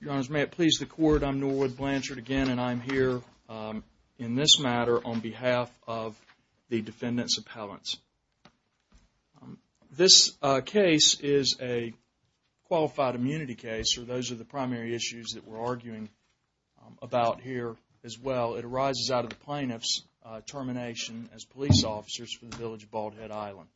Your Honors, may it please the Court, I'm Norwood Blanchard again and I'm here in this matter on behalf of the Defendant's Appellants. This case is a qualified immunity case, or those are the primary issues that we're arguing about here as well. It arises out of the Plaintiff's termination as police officers for the Village of Bald Head Island.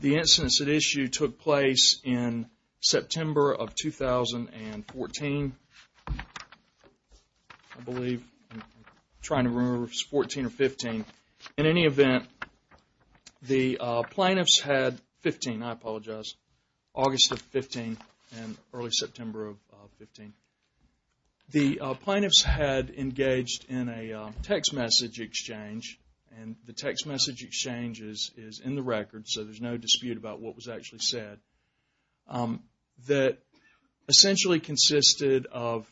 The incidents at issue took place in September of 2014, I believe, I'm trying to remember if it was 14 or 15. In any event, the Plaintiffs had 15, I apologize, August of 15 and early September of 15. The Plaintiffs had engaged in a text message exchange, and the text message exchange is in the record so there's no dispute about what was actually said, that essentially consisted of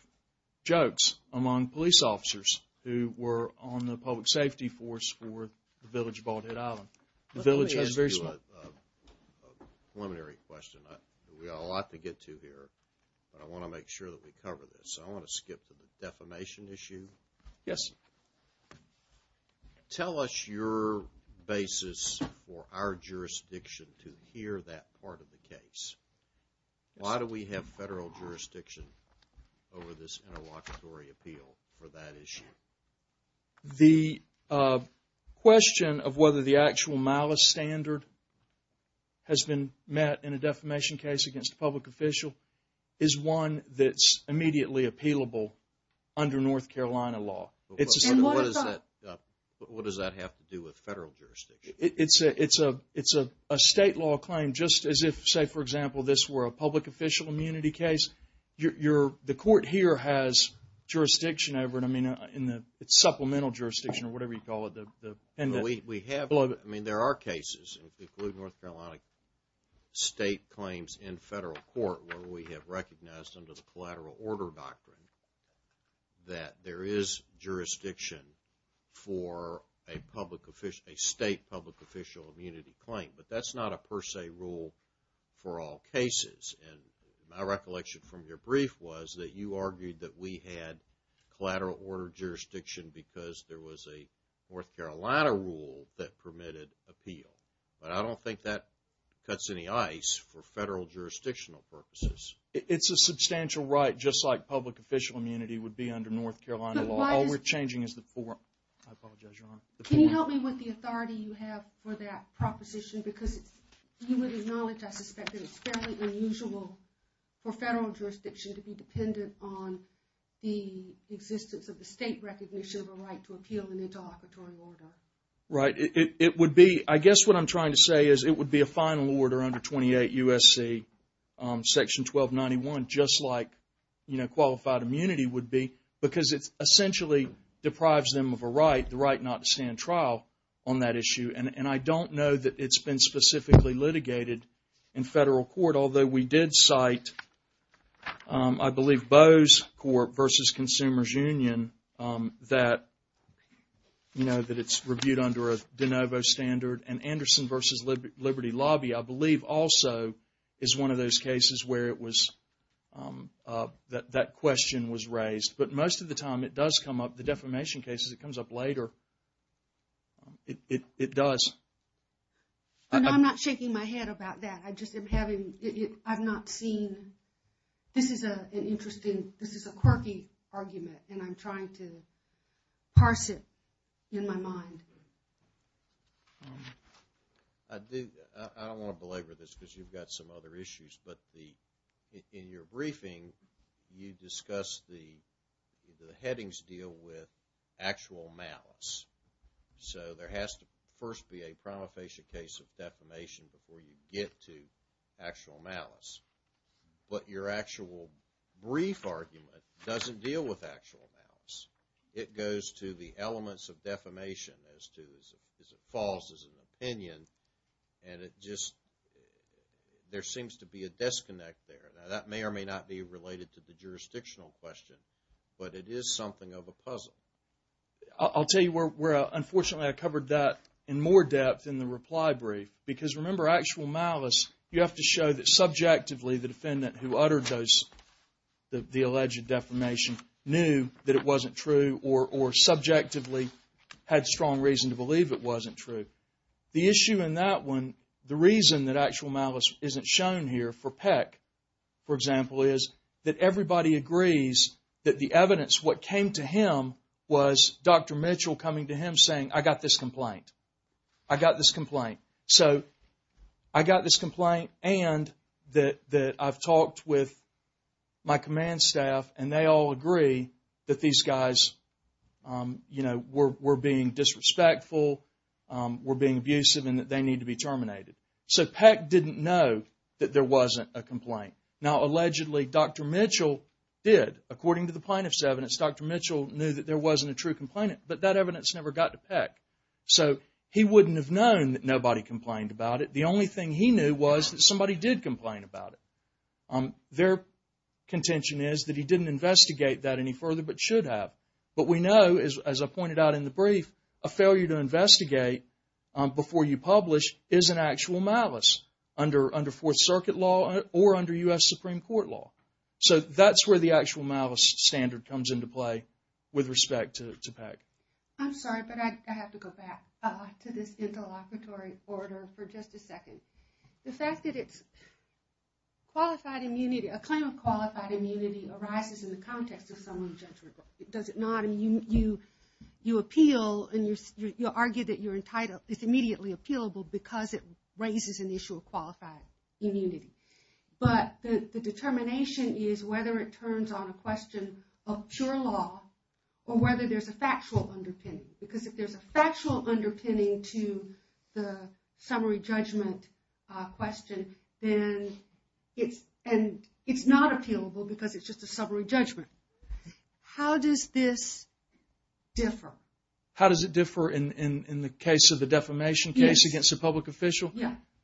jokes among police officers who were on the public safety force for the Village of Bald Head Island. Let me ask you a preliminary question, we've got a lot to get to here, but I want to make sure that we cover this. I want to skip to the defamation issue. Tell us your basis for our jurisdiction to hear that part of the case. Why do we have federal jurisdiction over this interlocutory appeal for that issue? The question of whether the actual malice standard has been met in a defamation case against a public official is one that's immediately appealable under North Carolina law. What does that have to do with federal jurisdiction? It's a state law claim, just as if, say for example, this were a public official immunity case, the court here has jurisdiction over it, it's supplemental jurisdiction or whatever you call it. We have, I mean there are cases, including North Carolina state claims in federal court where we have recognized under the collateral order doctrine that there is jurisdiction for a public official, a state public official immunity claim, but that's not a per se rule for all cases. And my recollection from your brief was that you argued that we had collateral order jurisdiction because there was a North Carolina rule that permitted appeal, but I don't think that cuts any ice for federal jurisdictional purposes. It's a substantial right, just like public official immunity would be under North Carolina law. All we're changing is the form. I apologize, Your Honor. Can you help me with the authority you have for that proposition because you would acknowledge, I suspect, that it's fairly unusual for federal jurisdiction to be dependent on the existence of the state recognition of a right to appeal an interoperatory order. Right. It would be, I guess what I'm trying to say is it would be a final order under 28 U.S.C. section 1291 just like, you know, qualified immunity would be because it essentially deprives them of a right, the right not to stand trial on that issue. And I don't know that it's been specifically litigated in federal court, although we did cite, I believe, Bowes Court versus Consumers Union that, you know, that it's reviewed under a de novo standard and Anderson versus Liberty Lobby, I believe, also is one of those cases where it was, that question was raised. But most of the time it does come up, the defamation cases, it comes up later. It does. And I'm not shaking my head about that. I just am having, I've not seen, this is an interesting, this is a quirky argument and I'm trying to parse it in my mind. I do, I don't want to belabor this because you've got some other issues, but the, in your briefing you discuss the headings deal with actual malice. So there has to first be a prima facie case of defamation before you get to actual malice. But your actual brief argument doesn't deal with actual malice. It goes to the elements of defamation as to, as it falls as an opinion and it just, there seems to be a disconnect there. Now that may or may not be related to the jurisdictional question, but it is something of a puzzle. I'll tell you where, unfortunately I covered that in more depth in the reply brief. Because remember actual malice, you have to show that subjectively the defendant who uttered those, the alleged defamation, knew that it wasn't true or subjectively had strong reason to believe it wasn't true. The issue in that one, the reason that actual malice isn't shown here for Peck, for example, is that everybody agrees that the evidence, what came to him was Dr. Mitchell coming to him saying, I got this complaint. I got this complaint. So I got this complaint and that I've talked with my command staff and they all agree that these guys, you know, were being disrespectful, were being abusive and that they need to be terminated. So Peck didn't know that there wasn't a complaint. Now allegedly Dr. Mitchell did, according to the plaintiff's evidence, Dr. Mitchell knew that there wasn't a true complainant, but that evidence never got to Peck. So he wouldn't have known that nobody complained about it. The only thing he knew was that somebody did complain about it. Their contention is that he didn't investigate that any further, but should have. But we know, as I pointed out in the brief, a failure to investigate before you publish is an actual malice under Fourth Circuit law or under U.S. Supreme Court law. So that's where the actual malice standard comes into play with respect to Peck. I'm sorry, but I have to go back to this interlocutory order for just a second. It's asked that it's qualified immunity, a claim of qualified immunity arises in the context of someone's judgment. Does it not? And you appeal and you argue that you're entitled, it's immediately appealable because it raises an issue of qualified immunity. But the determination is whether it turns on a question of pure law or whether there's a factual underpinning. Because if there's a factual underpinning to the summary judgment question, then it's not appealable because it's just a summary judgment. How does this differ? How does it differ in the case of the defamation case against a public official?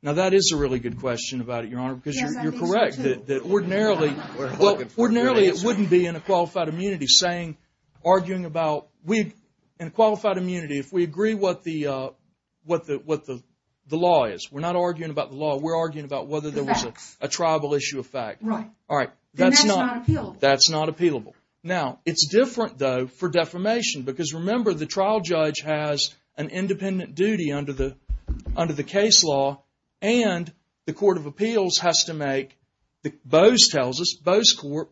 Now that is a really good question about it, Your Honor, because you're correct that ordinarily it wouldn't be in a qualified immunity saying, arguing about, in a qualified immunity, if we agree what the law is, we're not arguing about the law, we're arguing about whether there was a tribal issue of fact. Right. And that's not appealable. That's not appealable. Now, it's different, though, for defamation because remember the trial judge has an independent duty under the case law and the court of appeals has to make, Boe's tells us, Boe's court,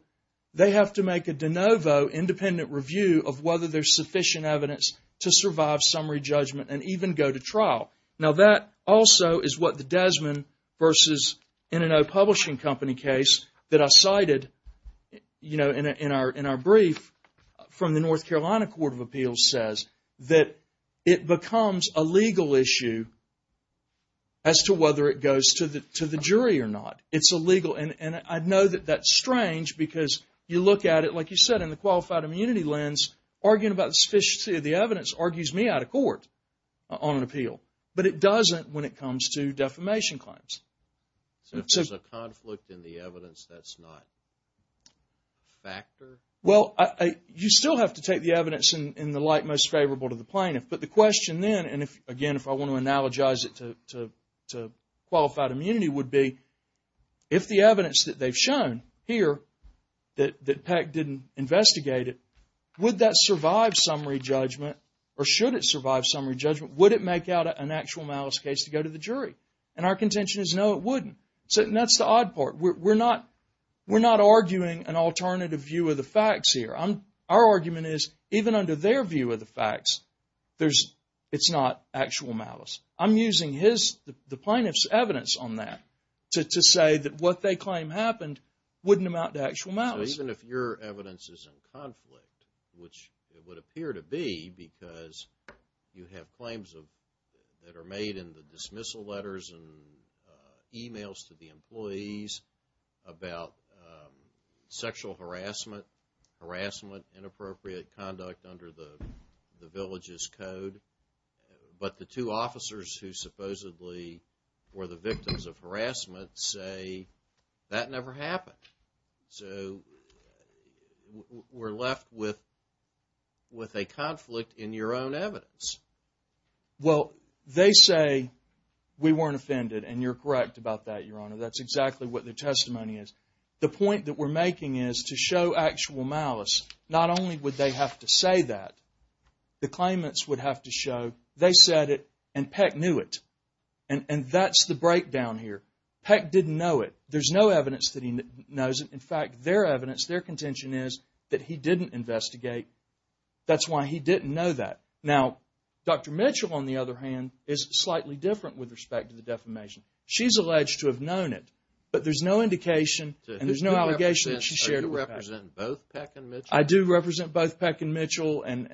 they have to make a de novo independent review of whether there's sufficient evidence to survive summary judgment and even go to trial. Now, that also is what the Desmond versus In-N-O Publishing Company case that I cited, you know, in our brief from the North Carolina Court of Appeals says, that it becomes a legal issue as to whether it goes to the jury or not. It's illegal. And I know that that's strange because you look at it, like you said, in the qualified immunity lens, arguing about the sufficiency of the evidence argues me out of court on an appeal. But it doesn't when it comes to defamation claims. So, if there's a conflict in the evidence, that's not a factor? Well, you still have to take the evidence in the light most favorable to the plaintiff. But the question then, and again, if I want to analogize it to qualified immunity, would be if the evidence that they've shown here that Peck didn't investigate it, would that survive summary judgment or should it survive summary judgment? Would it make out an actual malice case to go to the jury? And our contention is no, it wouldn't. So, that's the odd part. We're not arguing an alternative view of the facts here. Our argument is even under their view of the facts, it's not actual malice. I'm using the plaintiff's evidence on that to say that what they claim happened wouldn't amount to actual malice. So, even if your evidence is in conflict, which it would appear to be because you have claims that are made in the dismissal letters and emails to the employees about sexual harassment, harassment, inappropriate conduct under the village's code, but the two officers who supposedly were the victims of harassment say that never happened. So, we're left with a conflict in your own evidence. Well, they say we weren't offended, and you're correct about that, Your Honor. That's exactly what their testimony is. The point that we're making is to show actual malice. Not only would they have to say that, the claimants would have to show they said it and Peck knew it. And that's the breakdown here. Peck didn't know it. There's no evidence that he knows it. In fact, their evidence, their contention is that he didn't investigate. That's why he didn't know that. Now, Dr. Mitchell, on the other hand, is slightly different with respect to the defamation. She's alleged to have known it, but there's no indication and there's no allegation that she shared it with Peck. Do you represent both Peck and Mitchell? I do represent both Peck and Mitchell, and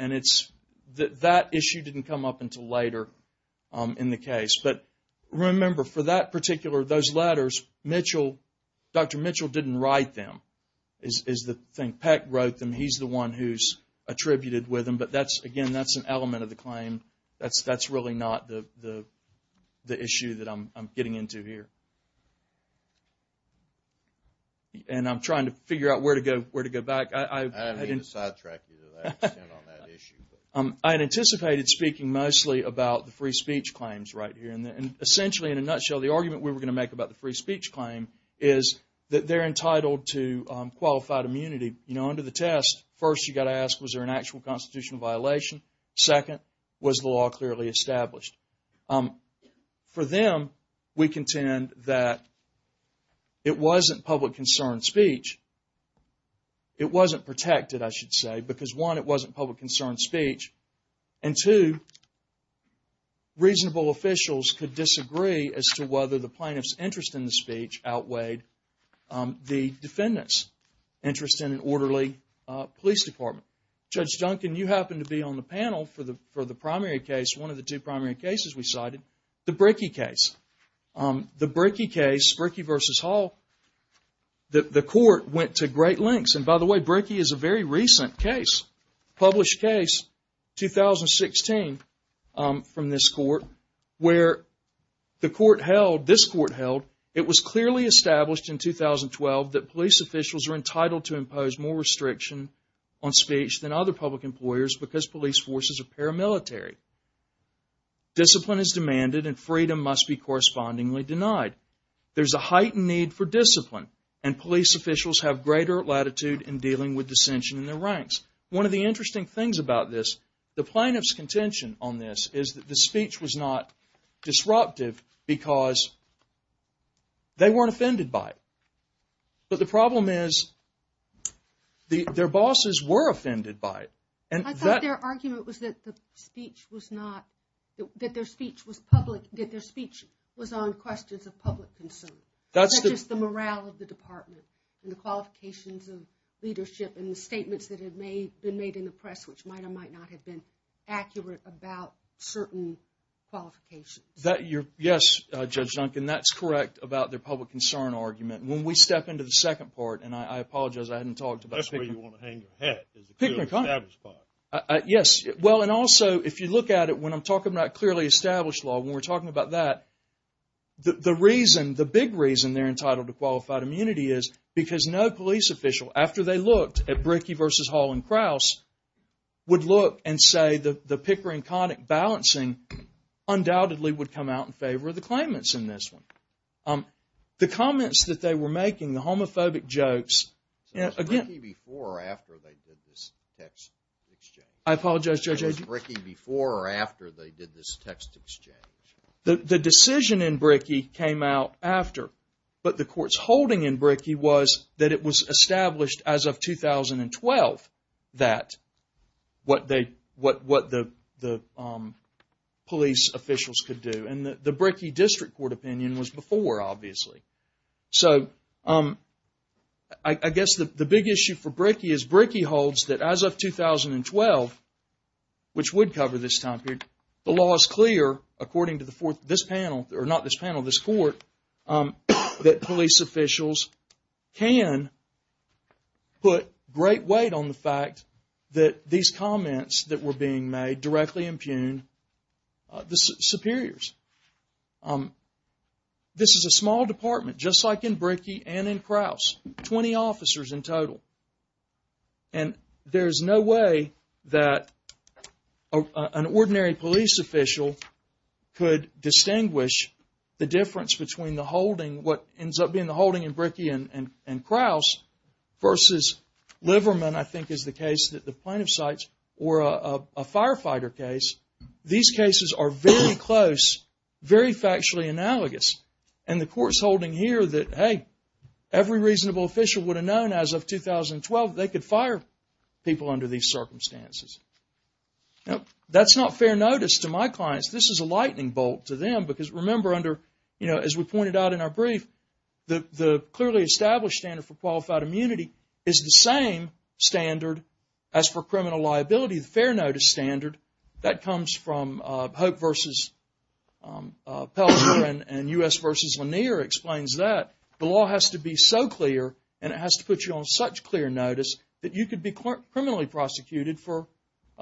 that issue didn't come up until later in the case. But remember, for that particular, those letters, Dr. Mitchell didn't write them, is the thing. Peck wrote them. He's the one who's attributed with them, but again, that's an element of the claim. That's really not the issue that I'm getting into here. And I'm trying to figure out where to go back. I didn't... I didn't mean to sidetrack you to that extent on that issue. I had anticipated speaking mostly about the free speech claims right here. And essentially, in a nutshell, the argument we were going to make about the free speech claim is that they're entitled to qualified immunity. You know, under the test, first you got to ask, was there an actual constitutional violation? Second, was the law clearly established? For them, we contend that it wasn't public concern speech. It wasn't protected, I should say, because one, it wasn't public concern speech. And two, reasonable officials could disagree as to whether the plaintiff's interest in the speech outweighed the defendant's interest in an orderly police department. Judge Duncan, you happen to be on the panel for the primary case, one of the two primary cases we cited, the Brickey case. The Brickey case, Brickey v. Hall, the court went to great lengths, and by the way, Brickey is a very recent case, published case, 2016 from this court, where the court held, this court held, it was clearly established in 2012 that police officials are entitled to speech than other public employers because police forces are paramilitary. Discipline is demanded and freedom must be correspondingly denied. There's a heightened need for discipline, and police officials have greater latitude in dealing with dissension in their ranks. One of the interesting things about this, the plaintiff's contention on this is that the speech was not disruptive because they weren't offended by it. But the problem is, their bosses were offended by it. I thought their argument was that the speech was not, that their speech was public, that their speech was on questions of public concern. That's just the morale of the department and the qualifications of leadership and the statements that have been made in the press, which might or might not have been accurate about certain qualifications. Yes, Judge Duncan, that's correct about their public concern argument. When we step into the second part, and I apologize, I hadn't talked about Pickering Connick. That's where you want to hang your hat, is the clearly established part. Yes. Well, and also, if you look at it, when I'm talking about clearly established law, when we're talking about that, the reason, the big reason they're entitled to qualified immunity is because no police official, after they looked at Brickey versus Hall and Kraus, would look and say the Pickering Connick balancing undoubtedly would come out in favor of the claimants in this one. The comments that they were making, the homophobic jokes, again... So it was Brickey before or after they did this text exchange? I apologize, Judge... So it was Brickey before or after they did this text exchange? The decision in Brickey came out after, but the court's holding in Brickey was that it was established as of 2012 that, what they, what the police officials could do. And the Brickey District Court opinion was before, obviously. So I guess the big issue for Brickey is Brickey holds that as of 2012, which would cover this time period, the law is clear, according to this panel, or not this panel, this court, that police officials can put great weight on the fact that these comments that were being made directly impugn the superiors. This is a small department, just like in Brickey and in Kraus, 20 officers in total. And there's no way that an ordinary police official could distinguish the difference between the holding, what ends up being the holding in Brickey and Kraus, versus Liverman, I think is the case that the plaintiff cites, or a firefighter case. These cases are very close, very factually analogous. And the court's holding here that, hey, every reasonable official would have known as of 2012 they could fire people under these circumstances. Now, that's not fair notice to my clients. This is a lightning bolt to them, because remember under, you know, as we pointed out in our brief, the clearly established standard for qualified immunity is the same standard as for criminal liability, the fair notice standard. That comes from Hope v. Pelzer and U.S. v. Lanier explains that. The law has to be so clear and it has to put you on such clear notice that you could be criminally prosecuted for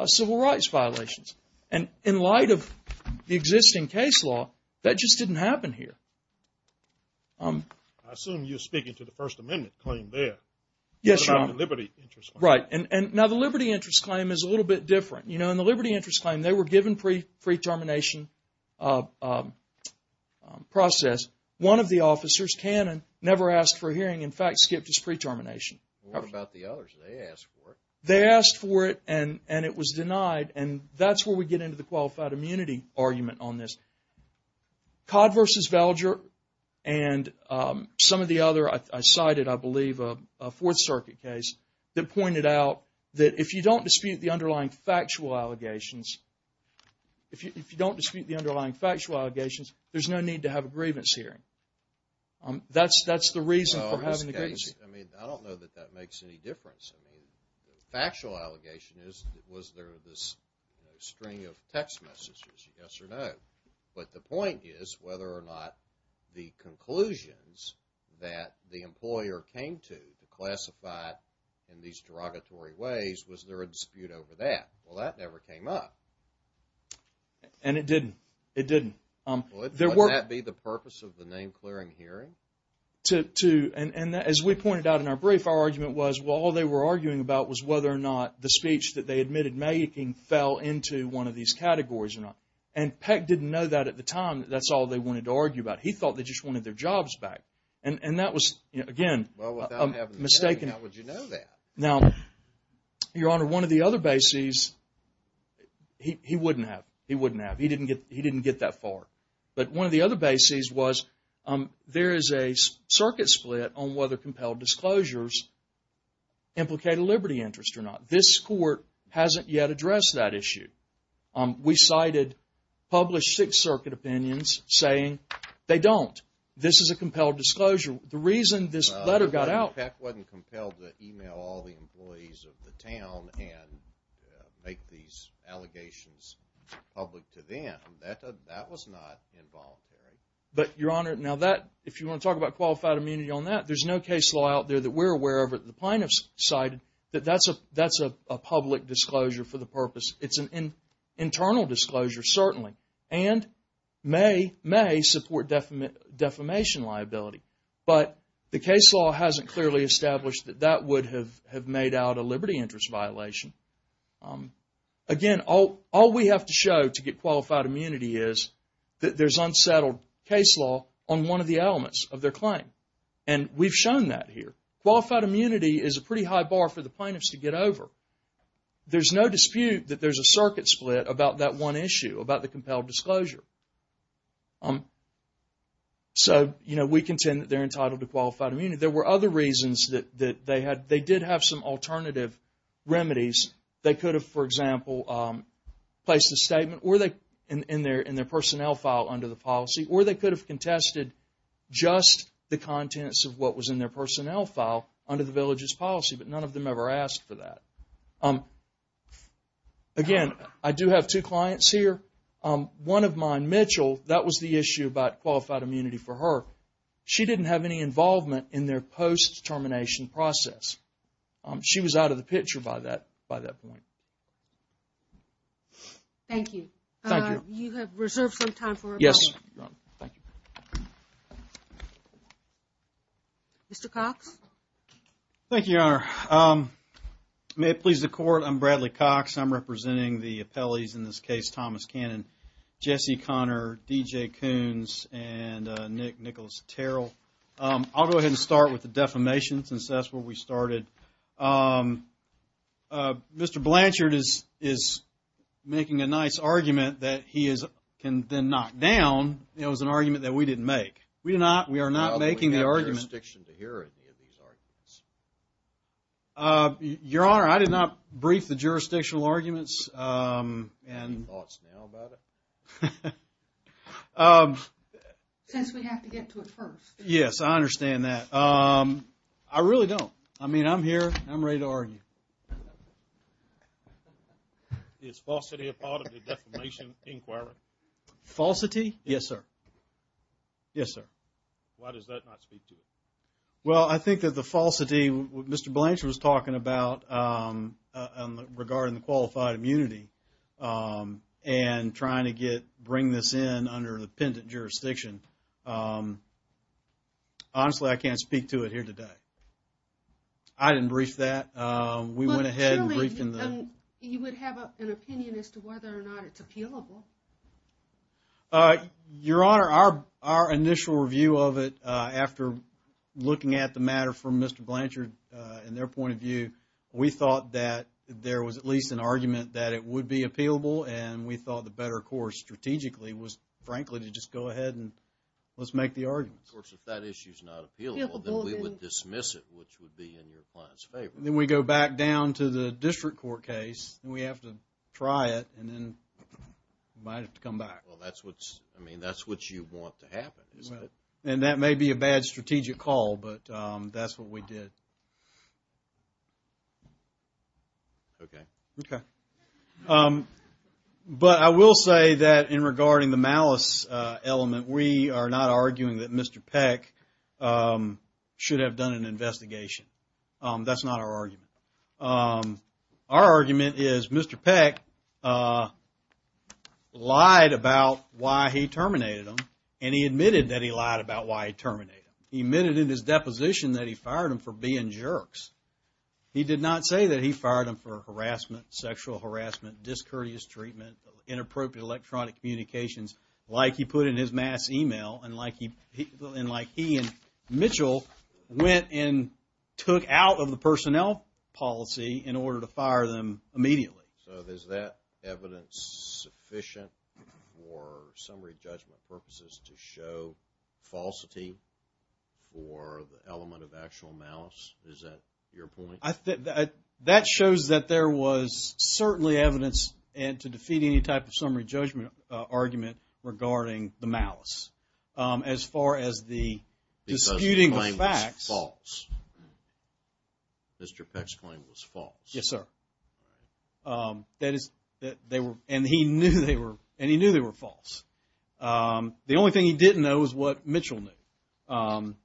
civil rights violations. And in light of the existing case law, that just didn't happen here. I assume you're speaking to the First Amendment claim there. Yes, Your Honor. About the liberty interest claim. Right. Now, the liberty interest claim is a little bit different. You know, in the liberty interest claim, they were given pre-termination process. One of the officers, Cannon, never asked for a hearing. In fact, skipped his pre-termination. What about the others? They asked for it. And it was denied. And that's where we get into the qualified immunity argument on this. Codd v. Velger and some of the other, I cited, I believe, a Fourth Circuit case that pointed out that if you don't dispute the underlying factual allegations, if you don't dispute the underlying factual allegations, there's no need to have a grievance hearing. That's the reason for having a grievance hearing. I mean, I don't know that that makes any difference. I mean, the factual allegation is, was there this, you know, string of text messages, yes or no? But the point is, whether or not the conclusions that the employer came to, classified in these derogatory ways, was there a dispute over that? Well, that never came up. And it didn't. It didn't. Would that be the purpose of the name-clearing hearing? And as we pointed out in our brief, our argument was, well, all they were arguing about was whether or not the speech that they admitted making fell into one of these categories or not. And Peck didn't know that at the time. That's all they wanted to argue about. He thought they just wanted their jobs back. And that was, again, a mistaken... Well, without having the hearing, how would you know that? Now, Your Honor, one of the other bases, he wouldn't have. He wouldn't have. He didn't get that far. But one of the other bases was, there is a circuit split on whether compelled disclosures implicate a liberty interest or not. This Court hasn't yet addressed that issue. We cited published Sixth Circuit opinions saying they don't. This is a compelled disclosure. The reason this letter got out... Peck wasn't compelled to email all the employees of the town and make these allegations public to them. That was not involuntary. But, Your Honor, now that... If you want to talk about qualified immunity on that, there's no case law out there that we're aware of that the plaintiffs cited that that's a public disclosure for the purpose. It's an internal disclosure, certainly. And may support defamation liability. But the case law hasn't clearly established that that would have made out a liberty interest violation. Again, all we have to show to get qualified immunity is that there's unsettled case law on one of the elements of their claim. And we've shown that here. Qualified immunity is a pretty high bar for the plaintiffs to get over. There's no dispute that there's a circuit split about that one issue, about the compelled disclosure. So, you know, we contend that they're entitled to qualified immunity. There were other reasons that they did have some alternative remedies. They could have, for example, placed a statement in their personnel file under the policy. Or they could have contested just the contents of what was in their personnel file under the village's policy. But none of them ever asked for that. Again, I do have two clients here. One of mine, Mitchell, that was the issue about qualified immunity for her. She didn't have any involvement in their post-termination process. She was out of the picture by that point. Thank you. Thank you. You have reserved some time for appellees. Yes, Your Honor. Thank you. Mr. Cox? Thank you, Your Honor. May it please the Court, I'm Bradley Cox. I'm representing the appellees in this case, Thomas Cannon, Jesse Conner, D.J. Coons, and Nick Nicholas Terrell. I'll go ahead and start with the defamation since that's where we started. Mr. Blanchard is making a nice argument that he can then knock down. It was an argument that we didn't make. We are not making the argument. We have jurisdiction to hear any of these arguments. Your Honor, I did not brief the jurisdictional arguments. Any thoughts now about it? Since we have to get to it first. Yes, I understand that. I really don't. I mean, I'm here. I'm ready to argue. Is falsity a part of the defamation inquiry? Falsity? Yes, sir. Yes, sir. Why does that not speak to it? Well, I think that the falsity, what Mr. Blanchard was talking about regarding the qualified immunity and trying to bring this in under the pendent jurisdiction. Honestly, I can't speak to it here today. I didn't brief that. We went ahead and briefed in the... You would have an opinion as to whether or not it's appealable. Your Honor, our initial review of it after looking at the matter from Mr. Blanchard and their point of view, we thought that there was at least an argument that it would be appealable and we thought the better course strategically was frankly to just go ahead and let's make the arguments. Of course, if that issue is not appealable, then we would dismiss it, which would be in your client's favor. Then we go back down to the district court case. We have to try it and then we might have to come back. Well, that's what you want to happen, isn't it? That may be a bad strategic call, but that's what we did. Okay. Okay. But I will say that in regarding the malice element, we are not arguing that Mr. Peck should have done an investigation. That's not our argument. Our argument is Mr. Peck lied about why he terminated him and he admitted that he lied about why he terminated him. He admitted in his deposition that he fired him for being jerks. He did not say that he fired him for harassment, sexual harassment, discourteous treatment, inappropriate electronic communications, like he put in his mass email and like he and Mitchell went and took out of the personnel policy in order to fire them immediately. So is that evidence sufficient for summary judgment purposes to show falsity? Or the element of actual malice? Is that your point? That shows that there was certainly evidence to defeat any type of summary judgment argument regarding the malice. As far as the disputing of facts. Because the claim was false. Mr. Peck's claim was false. Yes, sir. That is, they were, and he knew they were, and he knew they were false. The only thing he didn't know was what Mitchell knew.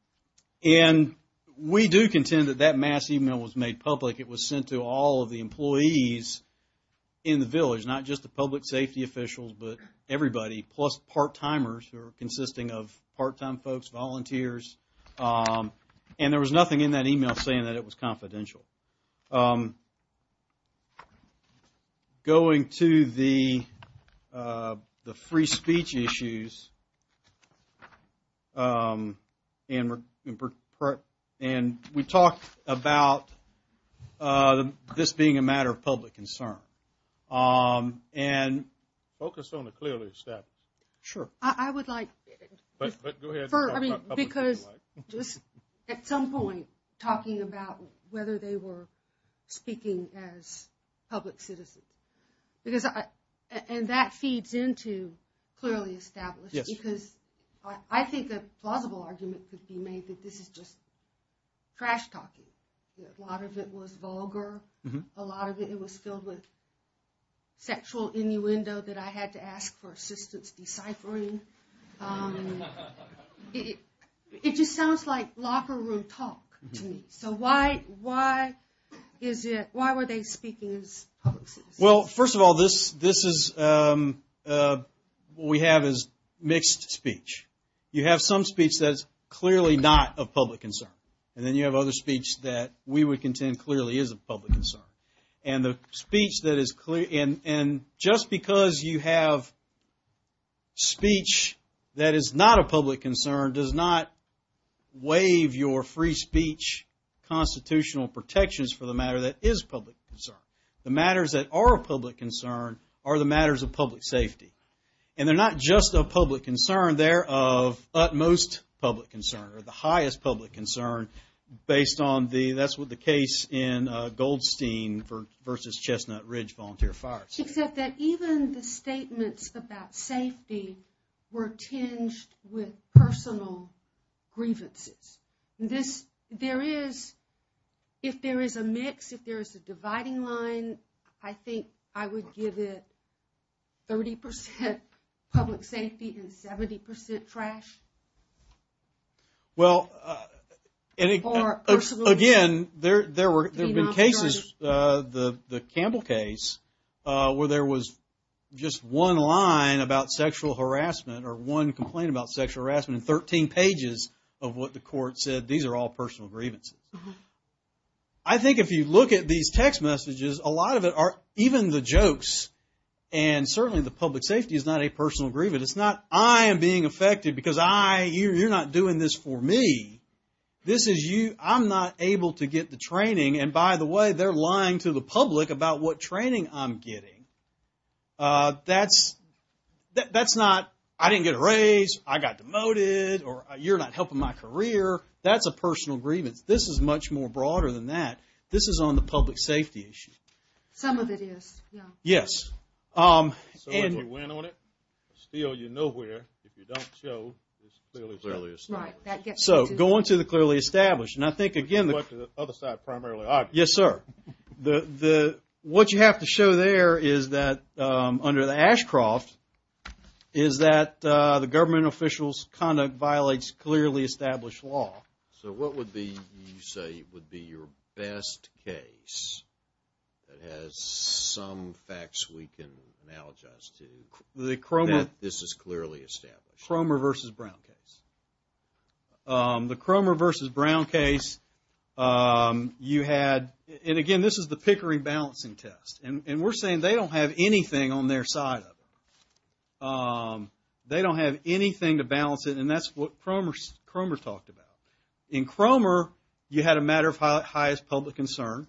And we do contend that that mass email was made public. It was sent to all of the employees in the village. Not just the public safety officials, but everybody. Plus part-timers who are consisting of part-time folks, volunteers. And there was nothing in that email saying that it was confidential. Going to the free speech issues, and we talked about this being a matter of public concern. And... Focus on the clearly established. Sure. I would like... Go ahead. At some point, talking about whether they were speaking as public citizens. And that feeds into clearly established. I think a plausible argument could be made that this is just trash talking. A lot of it was vulgar. A lot of it was filled with sexual innuendo that I had to ask for assistance deciphering. It just sounds like locker room talk to me. So why were they speaking as public citizens? Well, first of all, this is, what we have is mixed speech. You have some speech that is clearly not of public concern. And then you have other speech that we would contend clearly is of public concern. And just because you have speech that is not of public concern, does not waive your free speech constitutional protections for the matter that is public concern. The matters that are of public concern are the matters of public safety. And they're not just of public concern. They're of utmost public concern or the highest public concern based on the, that's what the case in Goldstein versus Chestnut Ridge volunteer fires. Except that even the statements about safety were tinged with personal grievances. This, there is, if there is a mix, if there is a dividing line, then I think I would give it 30% public safety and 70% trash. Well, again, there have been cases, the Campbell case, where there was just one line about sexual harassment or one complaint about sexual harassment in 13 pages of what the court said. These are all personal grievances. I think if you look at these text messages, a lot of it are even the jokes. And certainly the public safety is not a personal grievance. It's not, I am being affected because I, you're not doing this for me. This is you, I'm not able to get the training. And by the way, they're lying to the public about what training I'm getting. That's, that's not, I didn't get a raise. I got demoted or you're not helping my career. That's a personal grievance. This is much more broader than that. This is on the public safety issue. Some of it is, yeah. Yes. So if you win on it, still you know where, if you don't show, it's clearly established. Right, that gets you to. So going to the clearly established. And I think, again, the other side primarily argues. Yes, sir. The, what you have to show there is that under the Ashcroft is that the government official's conduct violates clearly established law. So what would be, you say, would be your best case that has some facts we can analogize to. The Cromer. That this is clearly established. Cromer versus Brown case. The Cromer versus Brown case, you had, and again, this is the Pickering balancing test. And we're saying they don't have anything on their side of it. They don't have anything to balance it. And that's what Cromer talked about. In Cromer, you had a matter of highest public concern.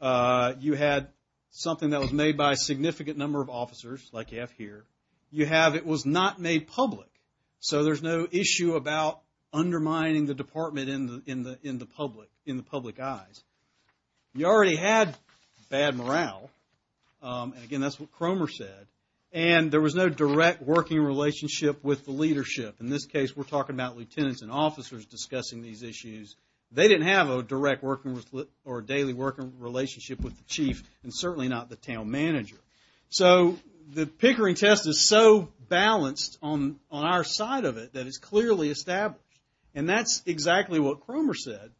You had something that was made by a significant number of officers, like you have here. You have, it was not made public. So there's no issue about undermining the department in the public eyes. You already had bad morale. And again, that's what Cromer said. And there was no direct working relationship with the leadership. In this case, we're talking about lieutenants and officers discussing these issues. They didn't have a direct working, or daily working relationship with the chief, and certainly not the town manager. So the Pickering test is so balanced on our side of it that it's clearly established. And that's exactly what Cromer said.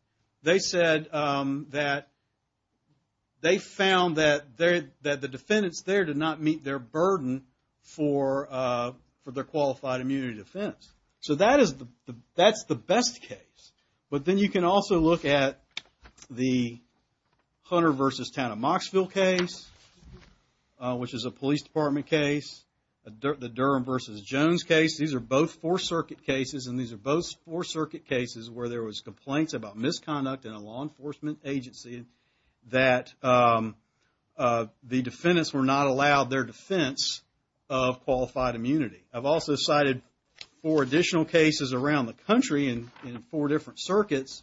They said that they found that the defendants there did not meet their burden for their qualified immunity defense. So that's the best case. But then you can also look at the Hunter v. Town of Moxville case, which is a police department case. The Durham v. Jones case. These are both Fourth Circuit cases, and these are both Fourth Circuit cases where there was complaints about misconduct in a law enforcement agency that the defendants were not allowed their defense of qualified immunity. I've also cited four additional cases around the country in four different circuits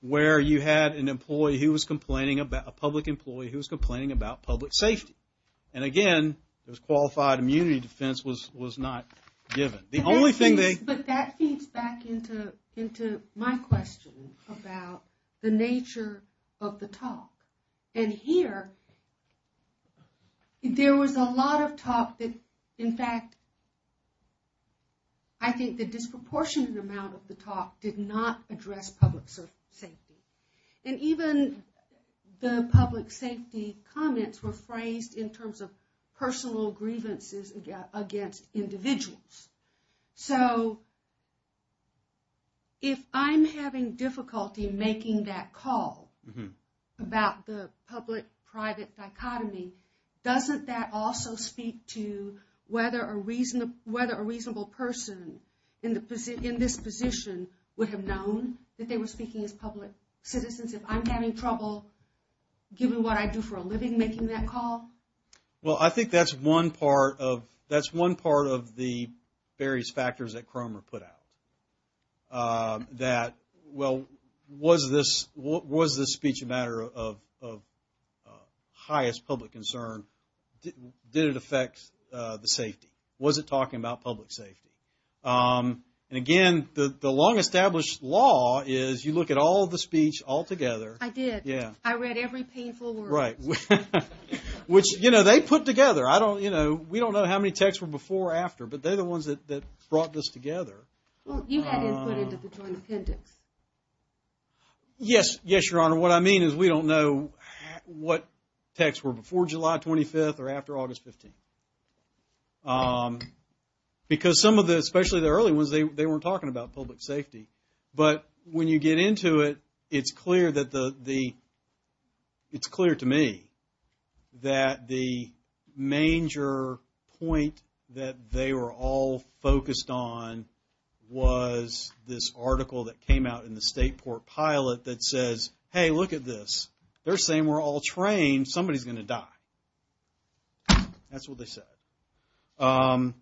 where you had an employee who was complaining about, a public employee who was complaining about public safety. And again, this qualified immunity defense was not given. The only thing they... But that feeds back into my question about the nature of the talk. And here, there was a lot of talk that, in fact, I think the disproportionate amount of the talk did not address public safety. And even the public safety comments were phrased in terms of personal grievances against individuals. So, if I'm having difficulty making that call about the public-private dichotomy, doesn't that also speak to whether a reasonable person in this position would have known that they were speaking as public citizens if I'm having trouble, given what I do for a living, making that call? Well, I think that's one part of the various factors that Cromer put out. That, well, was this speech a matter of highest public concern? Did it affect the safety? Was it talking about public safety? And again, the long-established law is, you look at all the speech altogether. I did. I read every painful word. Right. Which, you know, they put together. I don't, you know, we don't know how many texts were before or after, but they're the ones that brought this together. Well, you had input into the Joint Appendix. Yes. Yes, Your Honor. Your Honor, what I mean is we don't know what texts were before July 25th or after August 15th. Because some of the, especially the early ones, they weren't talking about public safety. But when you get into it, it's clear that the, it's clear to me that the major point that they were all focused on was this article that came out in the State Port Pilot that says, hey, look at this. They're saying we're all trained. Somebody's going to die. That's what they said. Mr.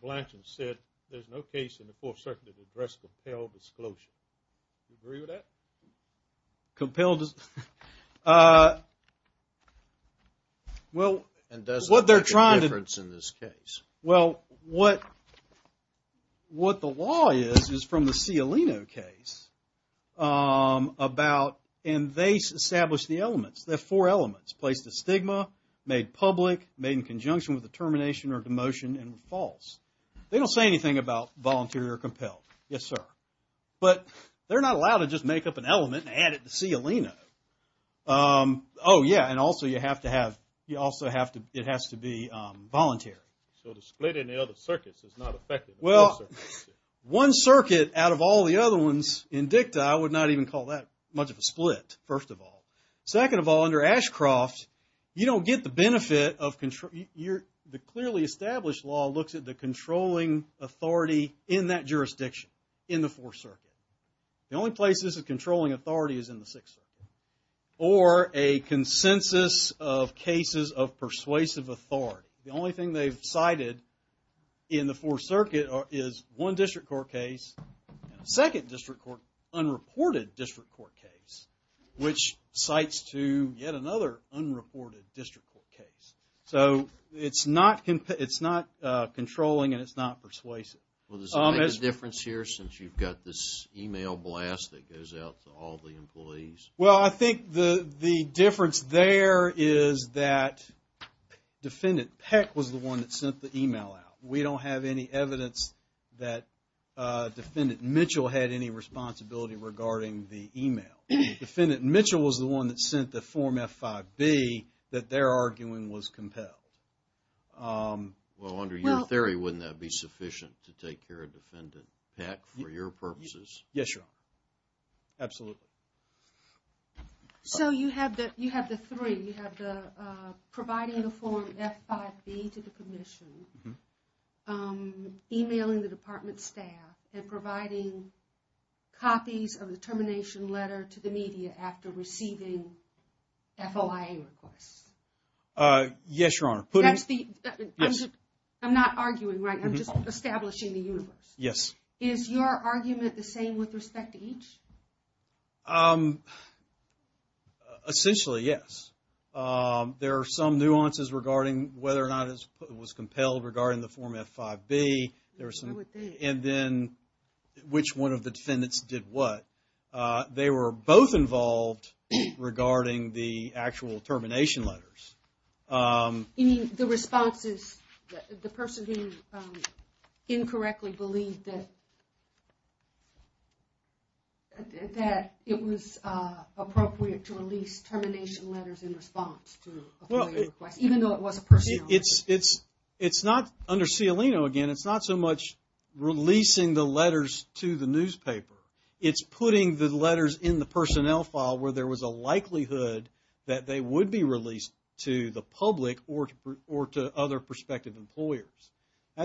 Blanchard said there's no case in the Fourth Circuit to address compelled disclosure. Do you agree with that? Compelled... Well, what they're trying to... And does it make a difference in this case? Well, what the law is is from the Cialino case about... And they established the elements. There are four elements. Placed a stigma, made public, made in conjunction with a termination or demotion, and false. They don't say anything about volunteer or compelled. Yes, sir. But they're not allowed to just make up an element and add it to Cialino. Oh, yeah, and also you have to have, you also have to, it has to be voluntary. So the split in the other circuits is not effective in both circuits? Well, the Fourth Circuit, out of all the other ones in dicta, I would not even call that much of a split, first of all. Second of all, under Ashcroft, you don't get the benefit of... The clearly established law looks at the controlling authority in that jurisdiction, in the Fourth Circuit. The only place this is controlling authority is in the Sixth Circuit. Or a consensus of cases of persuasive authority. The only thing they've cited in the Fourth Circuit is one district court case and a second district court, unreported district court case, which cites to yet another unreported district court case. So it's not controlling and it's not persuasive. Well, does it make a difference here since you've got this email blast that goes out to all the employees? Well, I think the difference there is that Defendant Peck was the one that sent the email out. We don't have any evidence that Defendant Mitchell had any responsibility regarding the email. Defendant Mitchell was the one that sent the Form F5B that they're arguing was compelled. Well, under your theory, wouldn't that be sufficient to take care of Defendant Peck for your purposes? Yes, Your Honor. Absolutely. So you have the three. You have the providing the Form F5B to the commission, emailing the department staff, and providing copies of the termination letter to the media after receiving FOIA requests. Yes, Your Honor. I'm not arguing, right? I'm just establishing the universe. Yes. Is your argument the same with respect to each? Essentially, yes. There are some nuances regarding whether or not it was compelled regarding the Form F5B. And then, which one of the defendants did what. They were both involved regarding the actual termination letters. You mean the responses, the person who incorrectly believed that it was appropriate to release termination letters in response to FOIA requests, even though it was a personnel letter? It's not under Cialino again. It's not so much releasing the letters to the newspaper. It's putting the letters in the personnel file where there was a likelihood that they would be released to the public or to other prospective employers.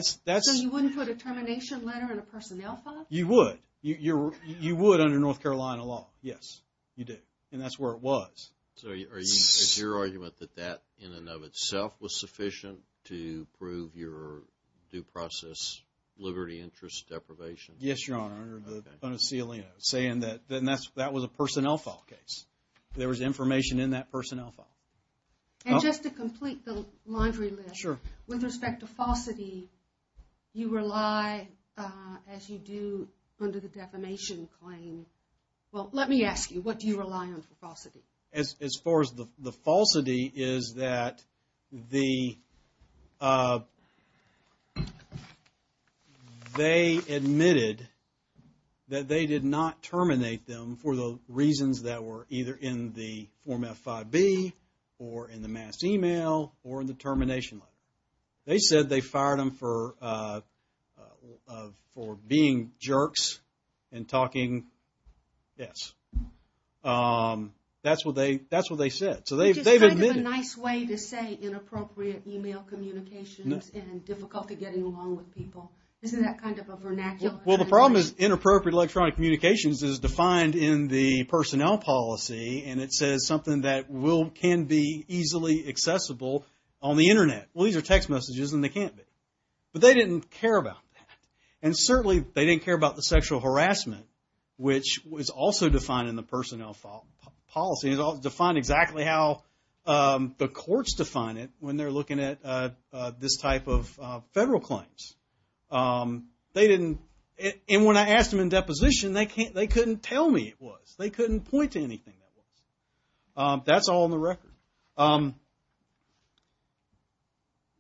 So you wouldn't put a termination letter in a personnel file? You would. You would under North Carolina law. Yes, you do. And that's where it was. So is your argument that that in and of itself was sufficient to prove your due process liberty, interest, deprivation? Yes, Your Honor. Under Cialino. Saying that that was a personnel file case. There was information in that personnel file. And just to complete the laundry list. Sure. With respect to falsity, you rely as you do under the defamation claim. Well, let me ask you, what do you rely on for falsity? As far as the falsity is that the they admitted that they did not terminate them for the reasons that were either in the Form F5B or in the mass email or in the termination letter. They said they fired them for being jerks and talking. Yes. That's what they said. So they've admitted it. Which is kind of a nice way to say inappropriate email communications and difficulty getting along with people. Isn't that kind of a vernacular? Well, the problem is inappropriate electronic communications is defined in the personnel policy and it says something that can be easily accessible on the internet. Well, these are text messages and they can't be. But they didn't care about that. And certainly, they didn't care about the sexual harassment which was also defined in the personnel policy. It defined exactly how the courts define it when they're looking at this type of federal claims. They didn't... And when I asked them in deposition, they couldn't tell me it was. They couldn't point to anything that was. That's all in the record.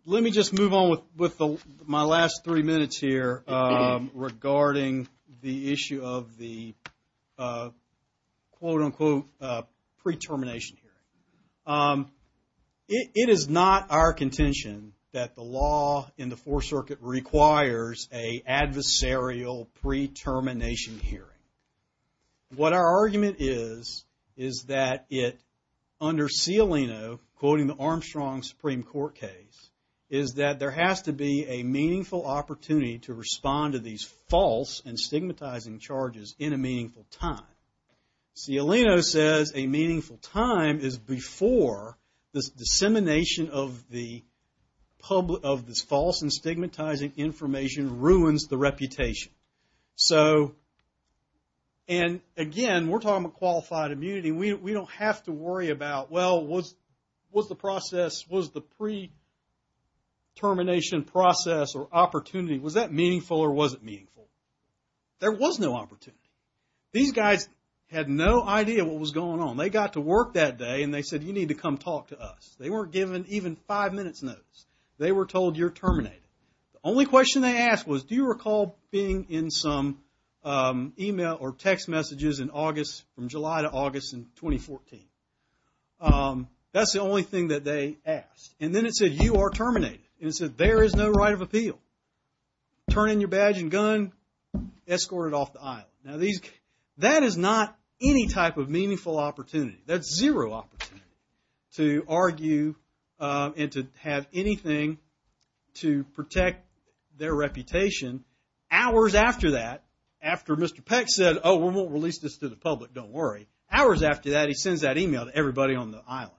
Let me just move on with my last three minutes here regarding the issue of the quote unquote pre-termination hearing. It is not our contention that the law in the Fourth Circuit requires a adversarial pre-termination hearing. What our argument is is that it under Cialino quoting the Armstrong Supreme Court case is that there has to be a meaningful opportunity to respond to these false and stigmatizing charges in a meaningful time. Cialino says a meaningful time is before this dissemination of the of this false and stigmatizing information ruins the reputation. So... And again, we're talking about qualified immunity. We don't have to worry about well, was the process was the pre- termination process or opportunity was that meaningful or was it meaningful? There was no opportunity. These guys had no idea what was going on. They got to work that day and they said you need to come talk to us. They weren't given even five minutes notice. They were told you're terminated. The only question they asked was do you recall being in some email or text messages in August from July to August in 2014? That's the only thing that they asked. And then it said you are terminated. And it said there is no right of appeal. Turn in your badge and gun. Escort it off the island. Now these that is not any type of meaningful opportunity. That's zero opportunity to argue and to have anything to protect their reputation hours after that after Mr. Peck said oh, we won't release this to the public. Don't worry. Hours after that he sends that email to everybody on the island.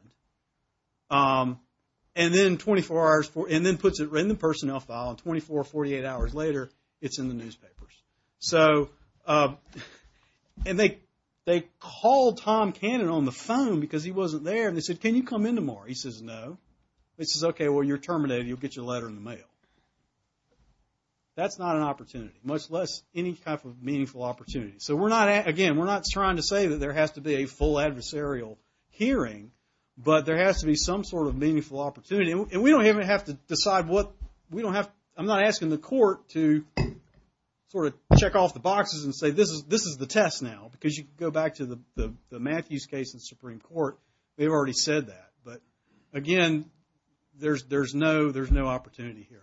And then 24 hours and then puts it in the personnel file and 24, 48 hours later it's in the newspapers. So and they they called Tom Cannon on the phone because he wasn't there and they said can you come in tomorrow? He says no. He says okay, well you're terminated. You'll get your letter in the mail. That's not an opportunity much less any type of meaningful opportunity. So we're not again we're not trying to say that there has to be a full adversarial hearing but there has to be some sort of meaningful opportunity and we don't even have to decide what we don't have I'm not asking the court to sort of check off the boxes and say this is this is the test now because you can go back to the Matthews case in the Supreme Court. We've already said that but again there's no there's no opportunity here.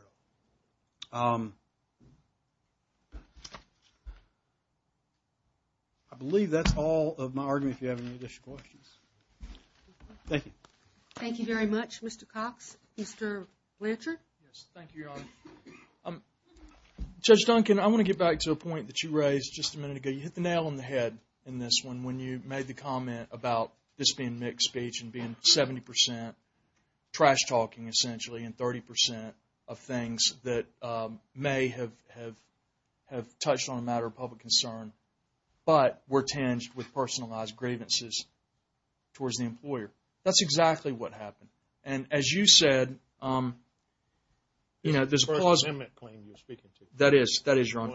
I believe that's all of my argument if you have any additional questions. Thank you. Thank you very much Mr. Cox. Mr. Blanchard. Yes, thank you Your Honor. Judge Duncan I want to get back to a point that you raised just a minute ago. You hit the nail on the head in this one when you made the comment about this being mixed speech and being 70% trash talking essentially and 30% of things that may have have touched on a matter of public concern but were tinged with personalized grievances towards the employer. That's exactly what happened and as you said you know this that is that is wrong.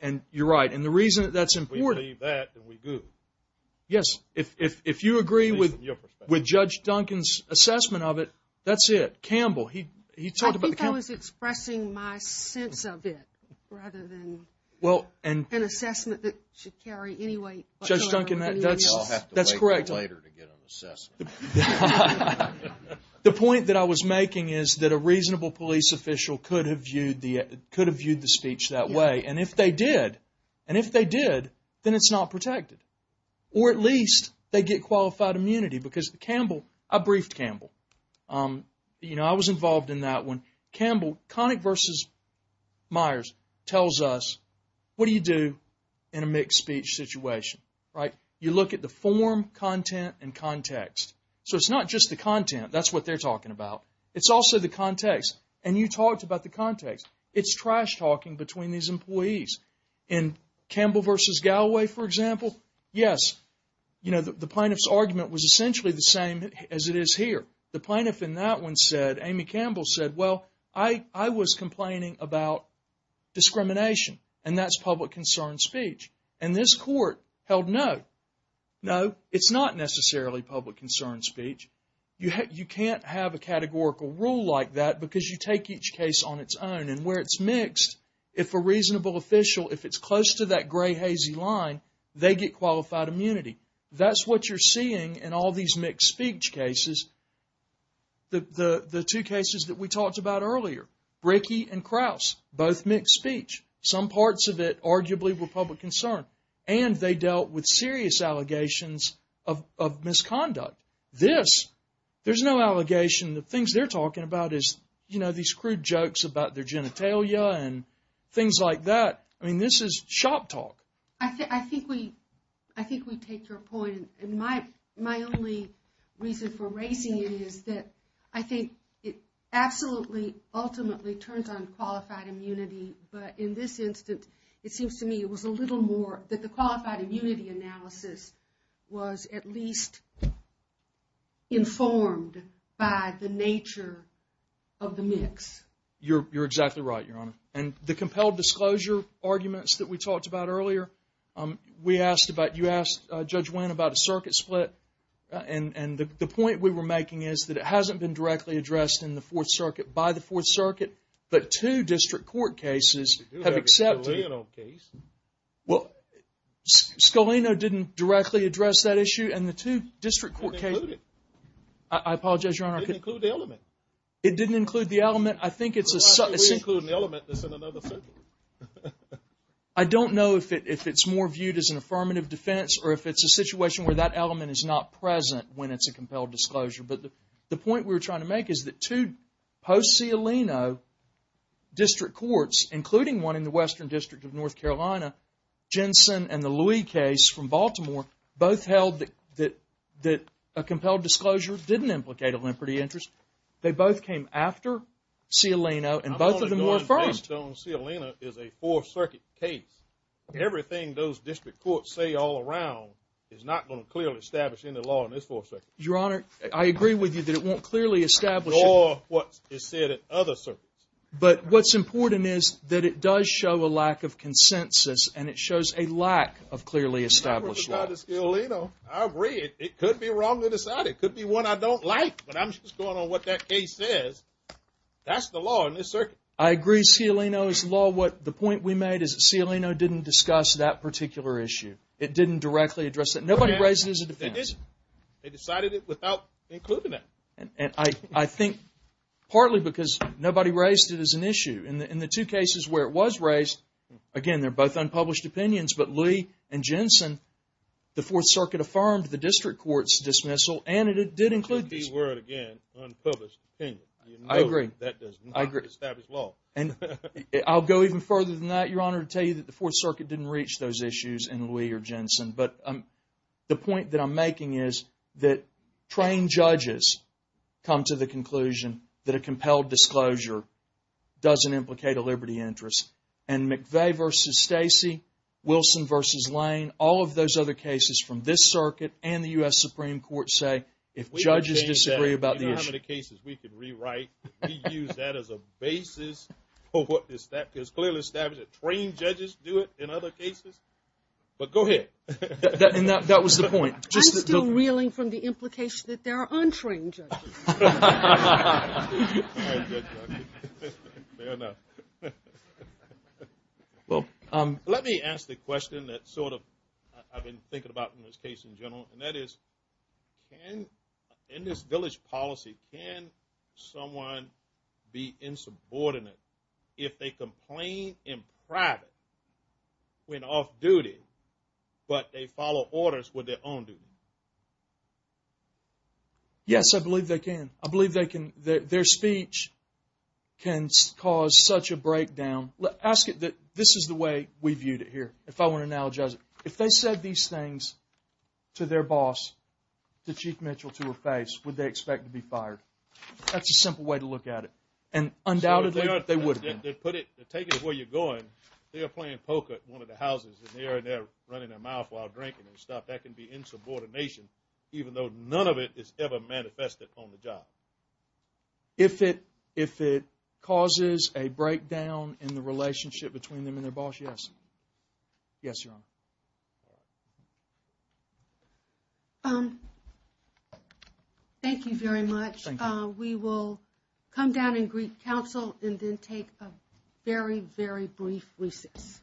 And you're right and the reason that's important yes if you agree with Judge Duncan's assessment of it that's it. Campbell he talked about I think I was expressing my sense of it rather than well an assessment that should carry anyway Judge Duncan that's correct. The point that I was making is that a reasonable police official could have viewed could have viewed the speech that way and if they did and if they did then it's not protected or at least they get qualified immunity because Campbell I briefed Campbell you know I was involved in that one Campbell Connick versus Myers tells us what do you do in a mixed speech situation right you look at the form content and context so it's not just the content that's what they're talking about it's also the context and you talked about the context it's trash talking between these employees in Campbell versus Galloway for example yes you know the plaintiff's argument was essentially the same as it is here the plaintiff in that one said Amy Campbell said well I was complaining about discrimination and that's public concern speech and this court held no no it's not necessarily public concern speech you can't have a categorical rule like that because you take each case on its own and where it's mixed if a reasonable official if it's close to that gray hazy line they get qualified immunity that's what you're seeing in all these mixed speech cases the the the two cases that we talked about earlier Rickey and Krause both mixed speech some parts of it arguably were public concern and they dealt with serious allegations of of misconduct this this there's no allegation the things they're talking about is you know these crude jokes about their genitalia and things like that I mean this is shop talk I think I think we I think we take your point and my my only reason for raising it is that I think it absolutely ultimately turns on qualified immunity but in this instance it seems to me it was a little more that the qualified immunity analysis was at least informed by the nature of the mix you're you're exactly right your honor and the compelled disclosure arguments that we talked about earlier we asked about you asked Judge Winn about a circuit split and and the the point we were making is that it hasn't been directly addressed in the Scalino didn't directly address that issue and the two district court cases I apologize your honor it didn't include the element I think it's a circuit I don't know if it's more viewed as an affirmative defense or if it's a situation where that element is not present when it's a compelled disclosure but the point we were trying to make is that two post Scalino district courts including one in the western district of North Carolina Jensen and the Louis case from Baltimore both held that that a compelled disclosure didn't implicate a liberty interest they both came after Scalino and both of them were affirmed that the Scalino case is a four circuit case everything those district courts say all around is not going to clearly establish any law in this four circuit your honor I agree with you that it won't clearly establish law what is said in other circuits but what's important is that it didn't address that particular issue it didn't directly address that nobody raised it as a defense they decided it without including that I think partly because nobody raised it as an issue in the two cases where it was raised again they're both unpublished opinions but Lee and Jensen the fourth circuit affirmed the district court's dismissal and it did include this word again unpublished opinion I agree that does not establish law I'll go even further than that your honor to tell you that the fourth circuit didn't reach those issues in Lee or Jensen but the point that I'm making is that trained judges come to the conclusion that a compelled disclosure doesn't implicate a liberty interest and McVeigh versus Stacy Wilson versus James Lane all of those cases from this circuit and the U.S. Supreme Court say if judges disagree about the issue I'm still reeling from the implication that there are untrained judges well let me ask the question that sort of I've been thinking about in this case in general and that is in this village policy can someone be insubordinate if they complain in private when off duty but they follow orders with their own duty yes I believe they can I believe they can their boss would they expect to be fired that's a simple way to look at it and undoubtedly they would have been put it take it where you're going they're playing poker at one of the houses and they're running their mouth while drinking and stuff that can be insubordination even though none of it is ever manifested on the job if it if it causes a breakdown in the relationship between them and their boss yes yes your honor um thank you very much we will come down and greet counsel and then take a very very brief recess your honor we'll talk to you at the brief